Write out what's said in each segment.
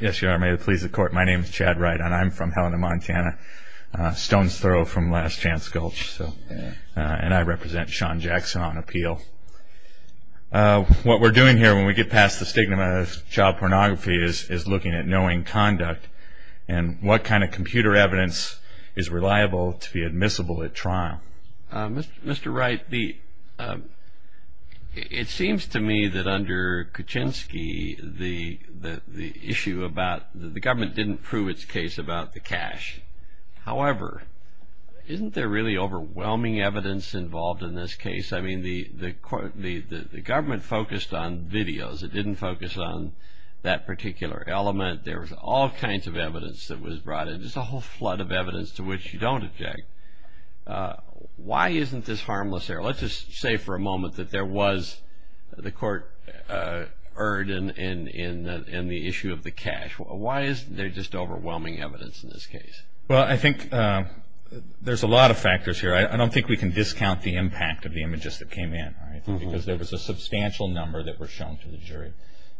Yes, your honor, may it please the court, my name is Chad Wright and I'm from Helena, Montana. Stones throw from Last Chance Gulch. And I represent Shawn Jackson on appeal. What we're doing here when we get past the stigma of child pornography is looking at knowing conduct and what kind of computer evidence is reliable to be admissible at trial. Mr. Wright, it seems to me that under Kuczynski, the government didn't prove its case about the cash. However, isn't there really overwhelming evidence involved in this case? I mean, the government focused on videos. It didn't focus on that particular element. There was all kinds of evidence that was brought in. There's a whole flood of evidence to which you don't object. Why isn't this harmless there? Let's just say for a moment that there was the court erred in the issue of the cash. Why isn't there just overwhelming evidence in this case? Well, I think there's a lot of factors here. I don't think we can discount the impact of the images that came in. Because there was a substantial number that were shown to the jury.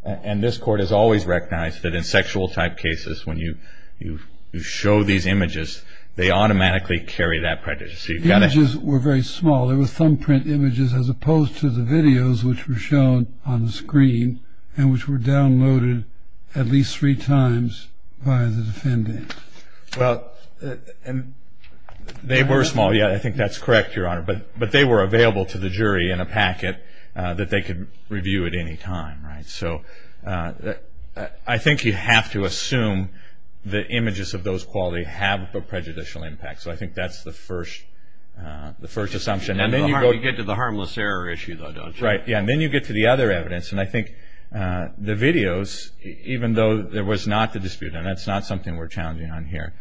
And this court has always recognized that in sexual type cases, when you show these images, they automatically carry that prejudice. The images were very small. They were thumbprint images as opposed to the videos which were shown on the screen and which were downloaded at least three times by the defendant. Well, they were small. Yeah, I think that's correct, Your Honor. But they were available to the jury in a packet that they could review at any time. So I think you have to assume that images of those qualities have a prejudicial impact. So I think that's the first assumption. And then you get to the harmless error issue, though, don't you? Yeah, and then you get to the other evidence. And I think the videos, even though there was not the dispute, and that's not something we're challenging on here,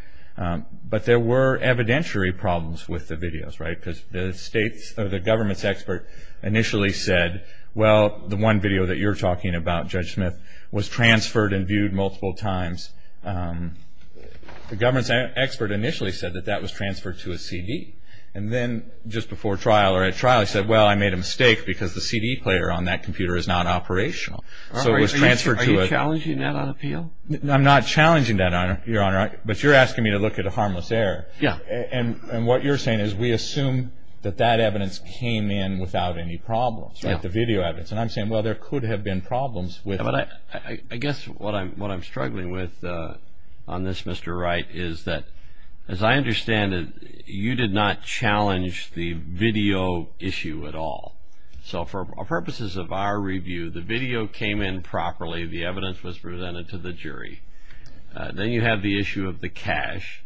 but there were evidentiary problems with the videos, right? Because the government's expert initially said, well, the one video that you're talking about, Judge Smith, was transferred and viewed multiple times. The government's expert initially said that that was transferred to a CD. And then just before trial or at trial he said, well, I made a mistake because the CD player on that computer is not operational. Are you challenging that on appeal? I'm not challenging that, Your Honor. But you're asking me to look at a harmless error. Yeah. And what you're saying is we assume that that evidence came in without any problems, right? Without the video evidence. And I'm saying, well, there could have been problems with it. I guess what I'm struggling with on this, Mr. Wright, is that, as I understand it, you did not challenge the video issue at all. So for purposes of our review, the video came in properly. The evidence was presented to the jury. Then you have the issue of the cash.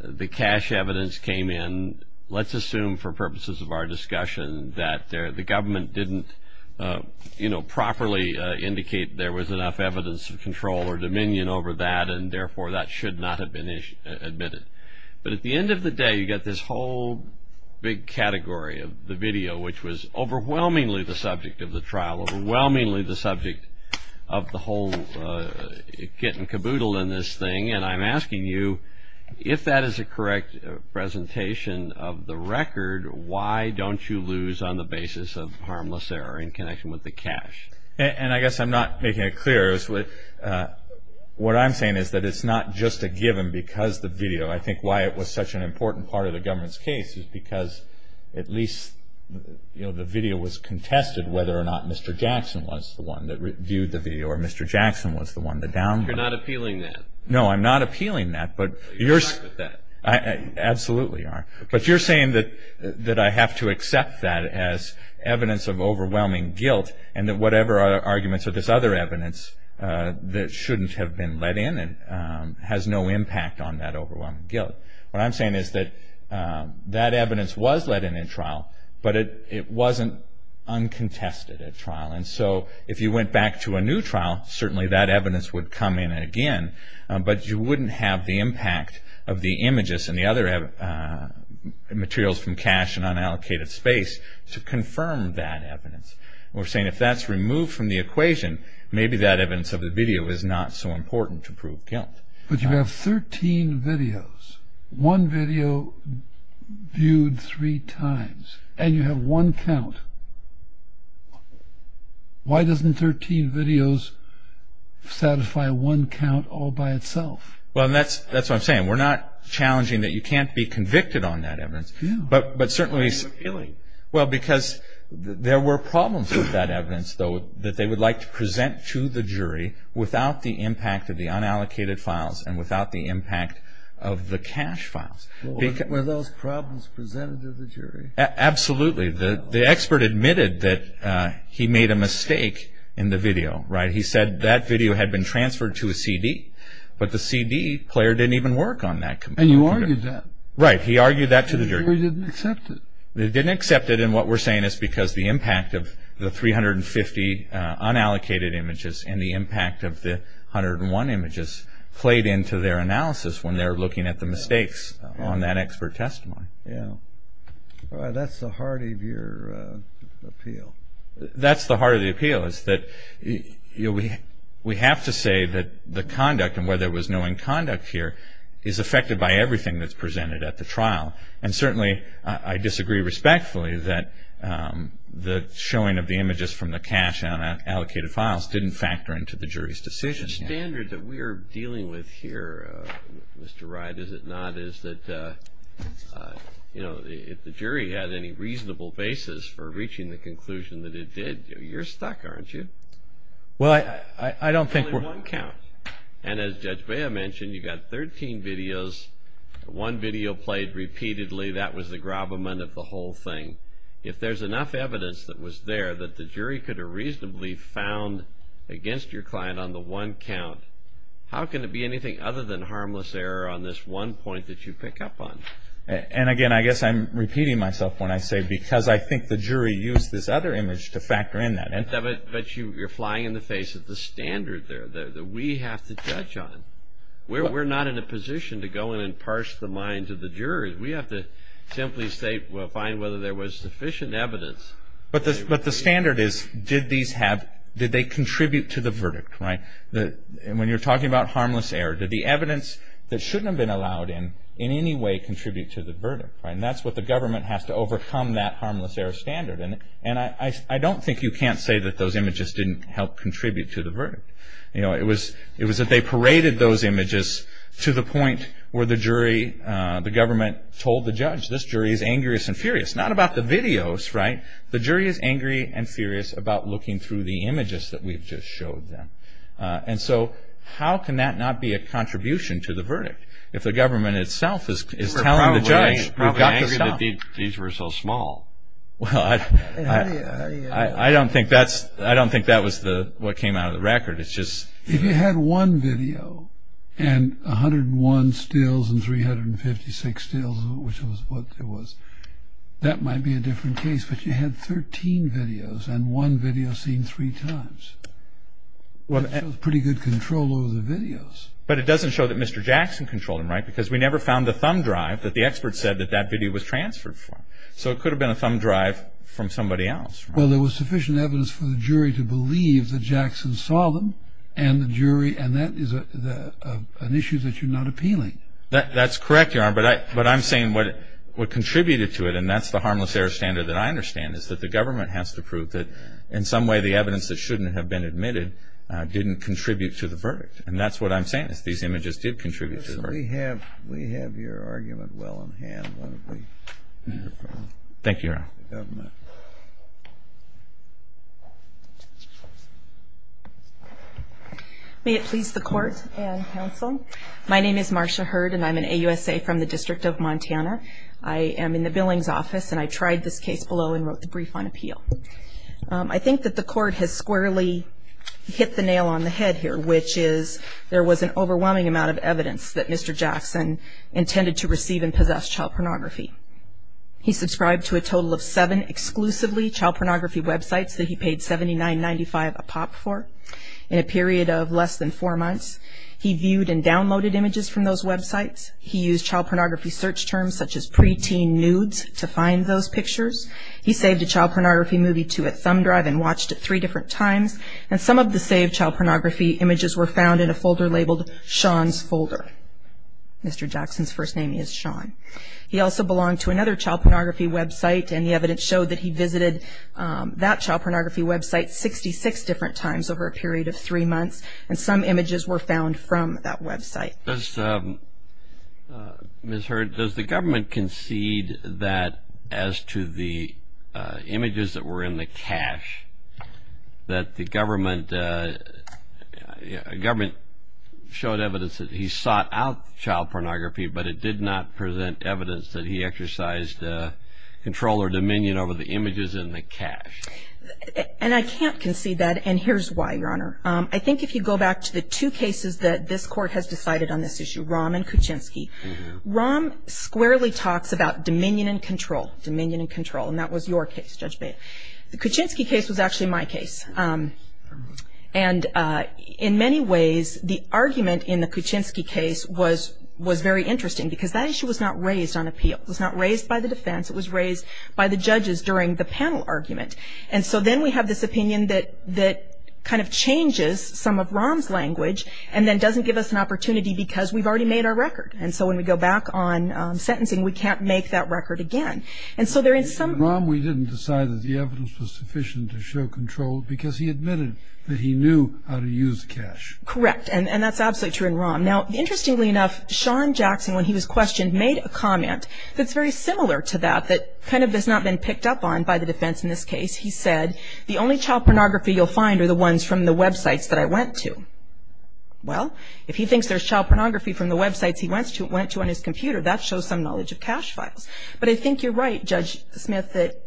The cash evidence came in. And let's assume, for purposes of our discussion, that the government didn't properly indicate there was enough evidence of control or dominion over that and, therefore, that should not have been admitted. But at the end of the day, you've got this whole big category of the video, which was overwhelmingly the subject of the trial, overwhelmingly the subject of the whole getting caboodled in this thing. And I'm asking you, if that is a correct presentation of the record, why don't you lose on the basis of harmless error in connection with the cash? And I guess I'm not making it clear. What I'm saying is that it's not just a given because the video. I think why it was such an important part of the government's case is because at least, you know, the video was contested whether or not Mr. Jackson was the one that reviewed the video or Mr. Jackson was the one to downvote. You're not appealing that. No, I'm not appealing that, but you're saying that I have to accept that as evidence of overwhelming guilt and that whatever arguments or this other evidence that shouldn't have been let in has no impact on that overwhelming guilt. What I'm saying is that that evidence was let in in trial, but it wasn't uncontested at trial. And so if you went back to a new trial, certainly that evidence would come in again, but you wouldn't have the impact of the images and the other materials from cash and unallocated space to confirm that evidence. We're saying if that's removed from the equation, maybe that evidence of the video is not so important to prove guilt. But you have 13 videos, one video viewed three times, and you have one count. Why doesn't 13 videos satisfy one count all by itself? Well, that's what I'm saying. We're not challenging that you can't be convicted on that evidence, but certainly... Why are you appealing? Well, because there were problems with that evidence, though, that they would like to present to the jury without the impact of the unallocated files and without the impact of the cash files. Were those problems presented to the jury? Absolutely. The expert admitted that he made a mistake in the video. He said that video had been transferred to a CD, but the CD player didn't even work on that. And you argued that. Right. He argued that to the jury. The jury didn't accept it. They didn't accept it, and what we're saying is because the impact of the 350 unallocated images and the impact of the 101 images played into their analysis when they were looking at the mistakes on that expert testimony. Yeah. That's the heart of your appeal. That's the heart of the appeal, is that we have to say that the conduct and whether there was no inconduct here is affected by everything that's presented at the trial. And certainly I disagree respectfully that the showing of the images from the cash and unallocated files didn't factor into the jury's decision. The standard that we are dealing with here, Mr. Wright, is it not, is that if the jury had any reasonable basis for reaching the conclusion that it did, you're stuck, aren't you? Well, I don't think we're. Only one count. And as Judge Bea mentioned, you've got 13 videos. One video played repeatedly. That was the gravamen of the whole thing. If there's enough evidence that was there that the jury could have reasonably found against your client on the one count, how can it be anything other than harmless error on this one point that you pick up on? And, again, I guess I'm repeating myself when I say because I think the jury used this other image to factor in that. But you're flying in the face of the standard there that we have to judge on. We're not in a position to go in and parse the minds of the jurors. We have to simply find whether there was sufficient evidence. But the standard is, did they contribute to the verdict? And when you're talking about harmless error, did the evidence that shouldn't have been allowed in in any way contribute to the verdict? And that's what the government has to overcome, that harmless error standard. And I don't think you can't say that those images didn't help contribute to the verdict. It was that they paraded those images to the point where the jury, the government, told the judge, this jury is angriest and furious, not about the videos, right? The jury is angry and furious about looking through the images that we've just showed them. And so how can that not be a contribution to the verdict? If the government itself is telling the judge, we've got to stop. Why did these were so small? I don't think that was what came out of the record. If you had one video and 101 stills and 356 stills, which was what it was, that might be a different case. But you had 13 videos and one video seen three times. That shows pretty good control over the videos. But it doesn't show that Mr. Jackson controlled them, right? Because we never found the thumb drive that the expert said that that video was transferred from. So it could have been a thumb drive from somebody else. Well, there was sufficient evidence for the jury to believe that Jackson saw them, and that is an issue that you're not appealing. That's correct, Your Honor. But I'm saying what contributed to it, and that's the harmless error standard that I understand, is that the government has to prove that in some way the evidence that shouldn't have been admitted didn't contribute to the verdict. And that's what I'm saying is these images did contribute to the verdict. We have your argument well in hand. Thank you, Your Honor. May it please the Court and counsel. My name is Marcia Hurd, and I'm an AUSA from the District of Montana. I am in the Billings Office, and I tried this case below and wrote the brief on appeal. I think that the Court has squarely hit the nail on the head here, which is there was an overwhelming amount of evidence that Mr. Jackson intended to receive and possess child pornography. He subscribed to a total of seven exclusively child pornography websites that he paid $79.95 a pop for. In a period of less than four months, he viewed and downloaded images from those websites. He used child pornography search terms such as preteen nudes to find those pictures. He saved a child pornography movie to a thumb drive and watched it three different times. And some of the saved child pornography images were found in a folder labeled Sean's Folder. Mr. Jackson's first name is Sean. He also belonged to another child pornography website, and the evidence showed that he visited that child pornography website 66 different times over a period of three months, and some images were found from that website. Ms. Hurd, does the government concede that as to the images that were in the cache, that the government showed evidence that he sought out child pornography, but it did not present evidence that he exercised control or dominion over the images in the cache? And I can't concede that, and here's why, Your Honor. I think if you go back to the two cases that this Court has decided on this issue, Rahm and Kuczynski, Rahm squarely talks about dominion and control, dominion and control, and that was your case, Judge Bailiff. The Kuczynski case was actually my case. And in many ways, the argument in the Kuczynski case was very interesting because that issue was not raised on appeal. It was not raised by the defense. It was raised by the judges during the panel argument. And so then we have this opinion that kind of changes some of Rahm's language and then doesn't give us an opportunity because we've already made our record. And so when we go back on sentencing, we can't make that record again. And so there is some Rahm, we didn't decide that the evidence was sufficient to show control because he admitted that he knew how to use the cache. Correct. And that's absolutely true in Rahm. Now, interestingly enough, Sean Jackson, when he was questioned, made a comment that's very similar to that, that kind of has not been picked up on by the defense in this case. He said, the only child pornography you'll find are the ones from the websites that I went to. Well, if he thinks there's child pornography from the websites he went to on his computer, that shows some knowledge of cache files. But I think you're right, Judge Smith, that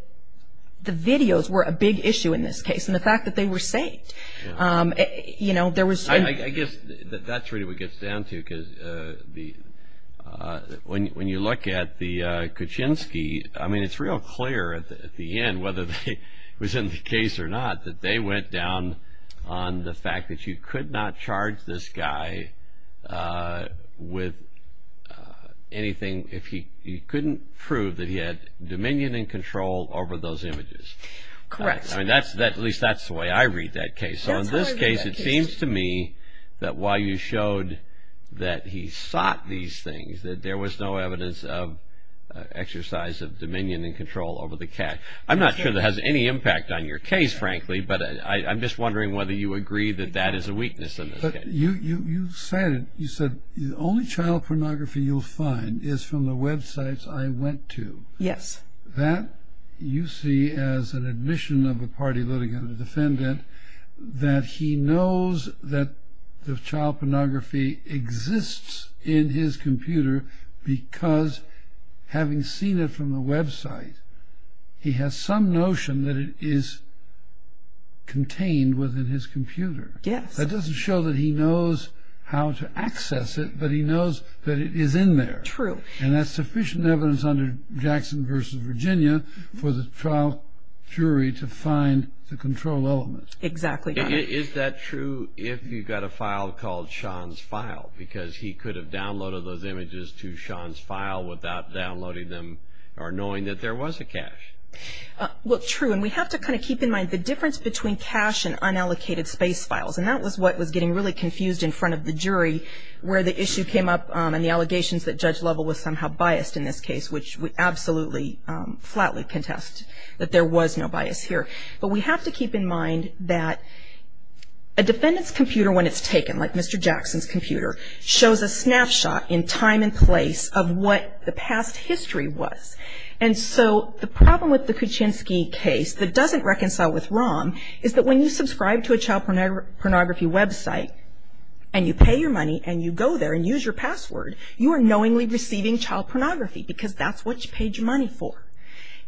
the videos were a big issue in this case and the fact that they were saved. I guess that's really what it gets down to because when you look at the Kaczynski, I mean, it's real clear at the end, whether it was in the case or not, that they went down on the fact that you could not charge this guy with anything. If he couldn't prove that he had dominion and control over those images. Correct. I mean, at least that's the way I read that case. So in this case, it seems to me that while you showed that he sought these things, that there was no evidence of exercise of dominion and control over the cache. I'm not sure that has any impact on your case, frankly, but I'm just wondering whether you agree that that is a weakness in this case. You said, the only child pornography you'll find is from the websites I went to. Yes. That you see as an admission of a party litigant or defendant that he knows that the child pornography exists in his computer because having seen it from the website, he has some notion that it is contained within his computer. Yes. It doesn't show that he knows how to access it, but he knows that it is in there. True. And that's sufficient evidence under Jackson v. Virginia for the trial jury to find the control element. Exactly. Is that true if you've got a file called Sean's file? Because he could have downloaded those images to Sean's file without downloading them or knowing that there was a cache. Well, true. And we have to kind of keep in mind the difference between cache and unallocated space files. And that was what was getting really confused in front of the jury where the issue came up and the allegations that Judge Lovell was somehow biased in this case, which we absolutely flatly contest that there was no bias here. But we have to keep in mind that a defendant's computer, when it's taken, like Mr. Jackson's computer, shows a snapshot in time and place of what the past history was. And so the problem with the Kuczynski case that doesn't reconcile with ROM is that when you subscribe to a child pornography website and you pay your money and you go there and use your password, you are knowingly receiving child pornography because that's what you paid your money for.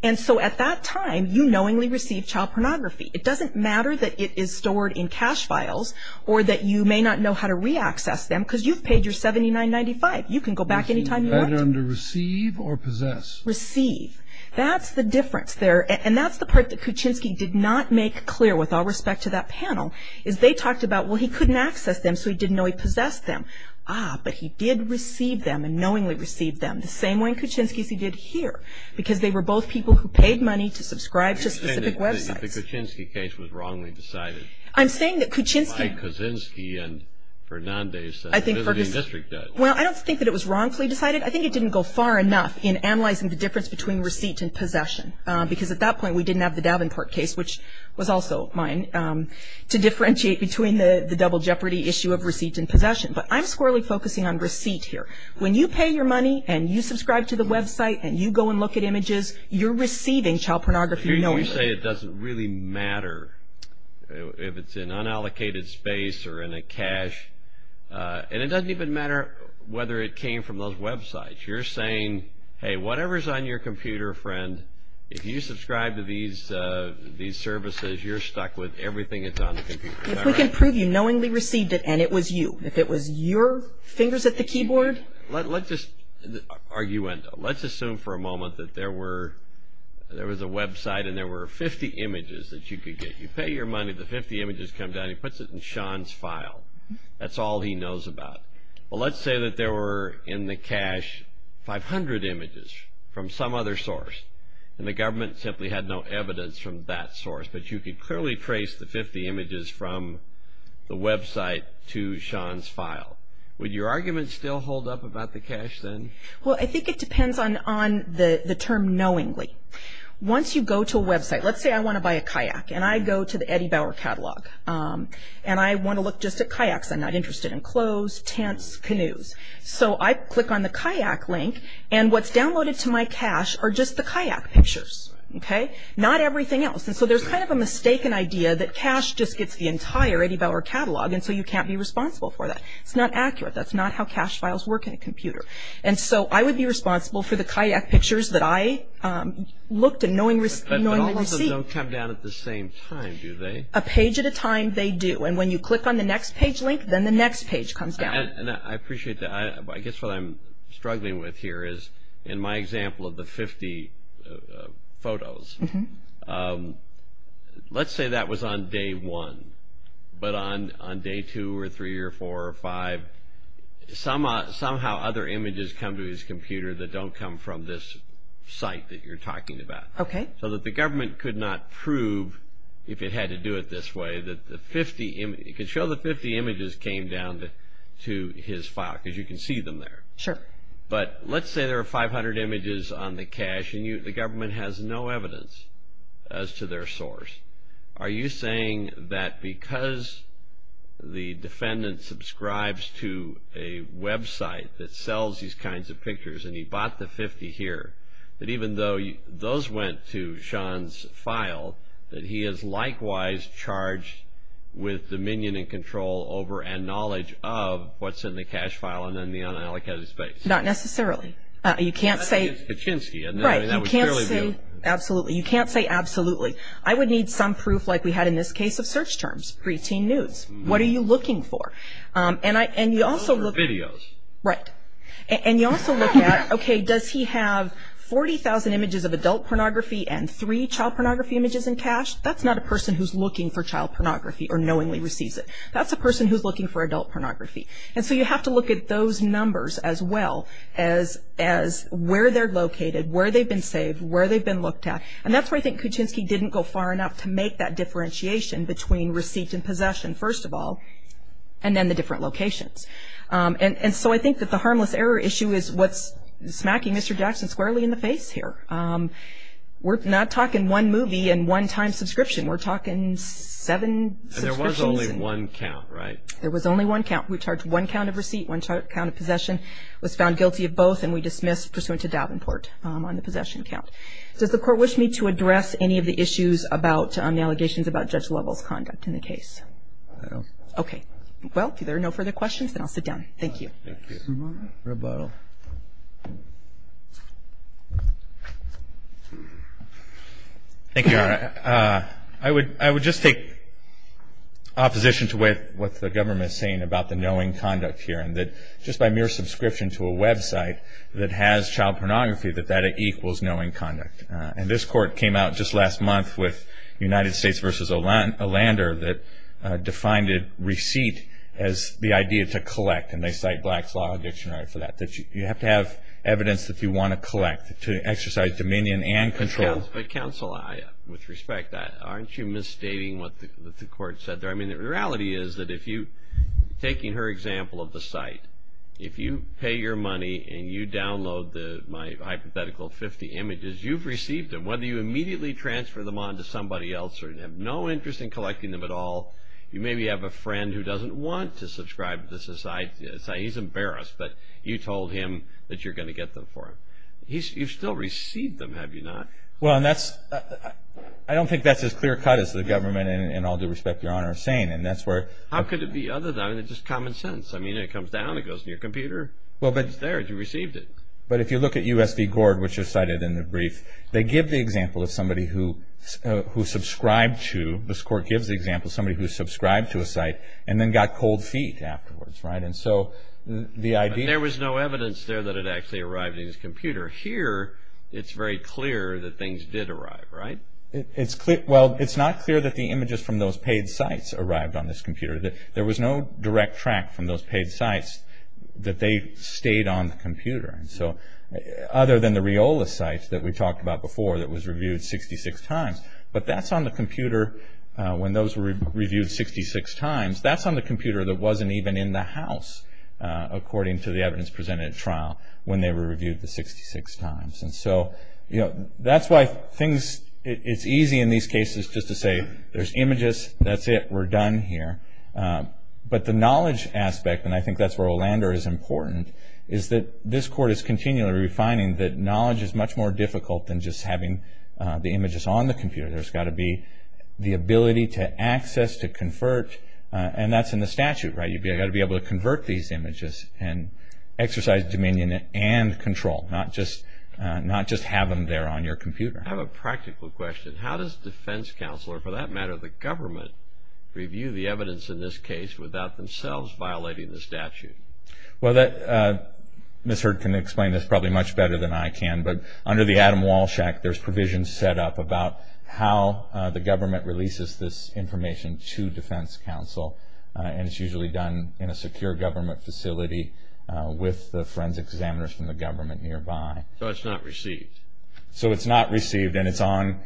And so at that time, you knowingly receive child pornography. It doesn't matter that it is stored in cache files or that you may not know how to reaccess them because you've paid your $79.95. You can go back any time you want. Either under receive or possess. Receive. That's the difference there. And that's the part that Kuczynski did not make clear with all respect to that panel, is they talked about, well, he couldn't access them so he didn't know he possessed them. Ah, but he did receive them and knowingly received them the same way Kuczynski's he did here because they were both people who paid money to subscribe to specific websites. You're saying that the Kuczynski case was wrongly decided. I'm saying that Kuczynski. By Kuczynski and Fernandez. I think Kuczynski. The Liberty District does. Well, I don't think that it was wrongfully decided. I think it didn't go far enough in analyzing the difference between receipt and possession because at that point we didn't have the Davenport case, which was also mine, to differentiate between the double jeopardy issue of receipt and possession. But I'm squarely focusing on receipt here. When you pay your money and you subscribe to the website and you go and look at images, you're receiving child pornography knowingly. You say it doesn't really matter if it's in unallocated space or in a cache. And it doesn't even matter whether it came from those websites. You're saying, hey, whatever's on your computer, friend, if you subscribe to these services, you're stuck with everything that's on the computer. If we can prove you knowingly received it and it was you. If it was your fingers at the keyboard. Let's just argue into it. Let's assume for a moment that there was a website and there were 50 images that you could get. You pay your money. The 50 images come down. He puts it in Sean's file. That's all he knows about. Well, let's say that there were in the cache 500 images from some other source and the government simply had no evidence from that source. But you could clearly trace the 50 images from the website to Sean's file. Would your argument still hold up about the cache then? Well, I think it depends on the term knowingly. Once you go to a website, let's say I want to buy a kayak. And I go to the Eddie Bauer catalog. And I want to look just at kayaks. I'm not interested in clothes, tents, canoes. So I click on the kayak link. And what's downloaded to my cache are just the kayak pictures, okay? Not everything else. And so there's kind of a mistaken idea that cache just gets the entire Eddie Bauer catalog and so you can't be responsible for that. It's not accurate. That's not how cache files work in a computer. And so I would be responsible for the kayak pictures that I looked at knowingly received. But all of them don't come down at the same time, do they? A page at a time, they do. And when you click on the next page link, then the next page comes down. And I appreciate that. I guess what I'm struggling with here is in my example of the 50 photos, let's say that was on day one. But on day two or three or four or five, somehow other images come to his computer that don't come from this site that you're talking about. Okay. So that the government could not prove, if it had to do it this way, that the 50 images came down to his file because you can see them there. Sure. But let's say there are 500 images on the cache and the government has no evidence as to their source. Are you saying that because the defendant subscribes to a website that sells these kinds of pictures and he bought the 50 here, that even though those went to Sean's file, that he is likewise charged with dominion and control over and knowledge of what's in the cache file and in the unallocated space? Not necessarily. You can't say- That's against Paczynski. Right. You can't say absolutely. You can't say absolutely. I would need some proof like we had in this case of search terms, preteen nudes. What are you looking for? And you also look- Videos. Right. And you also look at, okay, does he have 40,000 images of adult pornography and three child pornography images in cache? That's not a person who's looking for child pornography or knowingly receives it. That's a person who's looking for adult pornography. And so you have to look at those numbers as well as where they're located, where they've been saved, where they've been looked at. And that's where I think Paczynski didn't go far enough to make that differentiation between receipt and possession, first of all, and then the different locations. And so I think that the harmless error issue is what's smacking Mr. Jackson squarely in the face here. We're not talking one movie and one time subscription. We're talking seven subscriptions. And there was only one count, right? There was only one count. We charged one count of receipt, one count of possession, was found guilty of both, and we dismissed pursuant to Davenport on the possession count. Does the Court wish me to address any of the issues about the allegations about Judge Lovell's conduct in the case? No. Okay. Well, if there are no further questions, then I'll sit down. Thank you. Thank you. I would just take opposition to what the government is saying about the knowing conduct here, and that just by mere subscription to a website that has child pornography, that that equals knowing conduct. And this court came out just last month with United States v. Olander that defined a receipt as the idea to collect, and they cite Black's Law Dictionary for that, that you have to have evidence that you want to collect to exercise dominion and control. But, counsel, with respect, aren't you misstating what the court said there? I mean, the reality is that if you're taking her example of the site, if you pay your money and you download my hypothetical 50 images, you've received them. Whether you immediately transfer them on to somebody else or have no interest in collecting them at all, you maybe have a friend who doesn't want to subscribe to the site, he's embarrassed, but you told him that you're going to get them for him. You've still received them, have you not? Well, I don't think that's as clear cut as the government, in all due respect, Your Honor, is saying. How could it be other than just common sense? I mean, it comes down, it goes to your computer, it's there, you received it. But if you look at U.S. v. Gord, which is cited in the brief, they give the example of somebody who subscribed to, this court gives the example of somebody who subscribed to a site and then got cold feet afterwards, right? And so the idea... But there was no evidence there that it actually arrived in his computer. Here, it's very clear that things did arrive, right? Well, it's not clear that the images from those paid sites arrived on this computer. There was no direct track from those paid sites that they stayed on the computer. And so, other than the Riola site that we talked about before that was reviewed 66 times, but that's on the computer when those were reviewed 66 times, that's on the computer that wasn't even in the house, according to the evidence presented at trial when they were reviewed the 66 times. And so, that's why things... It's easy in these cases just to say, there's images, that's it, we're done here. But the knowledge aspect, and I think that's where Olander is important, is that this court is continually refining that knowledge is much more difficult than just having the images on the computer. There's got to be the ability to access, to convert, and that's in the statute, right? You've got to be able to convert these images and exercise dominion and control, not just have them there on your computer. I have a practical question. How does defense counsel, or for that matter the government, review the evidence in this case without themselves violating the statute? Well, Ms. Hurd can explain this probably much better than I can, but under the Adam Walsh Act, there's provisions set up about how the government releases this information to defense counsel, and it's usually done in a secure government facility with the forensic examiners from the government nearby. So, it's not received? So, it's not received, and it's on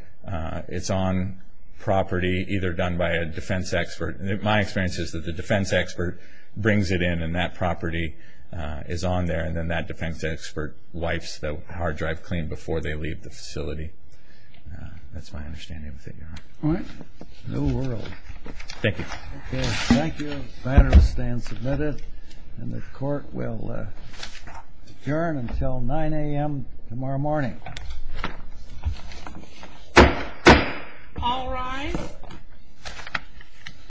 property either done by a defense expert. My experience is that the defense expert brings it in, and that property is on there, and then that defense expert wipes the hard drive clean before they leave the facility. That's my understanding of the figure. All right. New world. Thank you. Okay, thank you. The matter stands submitted, and the court will adjourn until 9 a.m. tomorrow morning. All rise.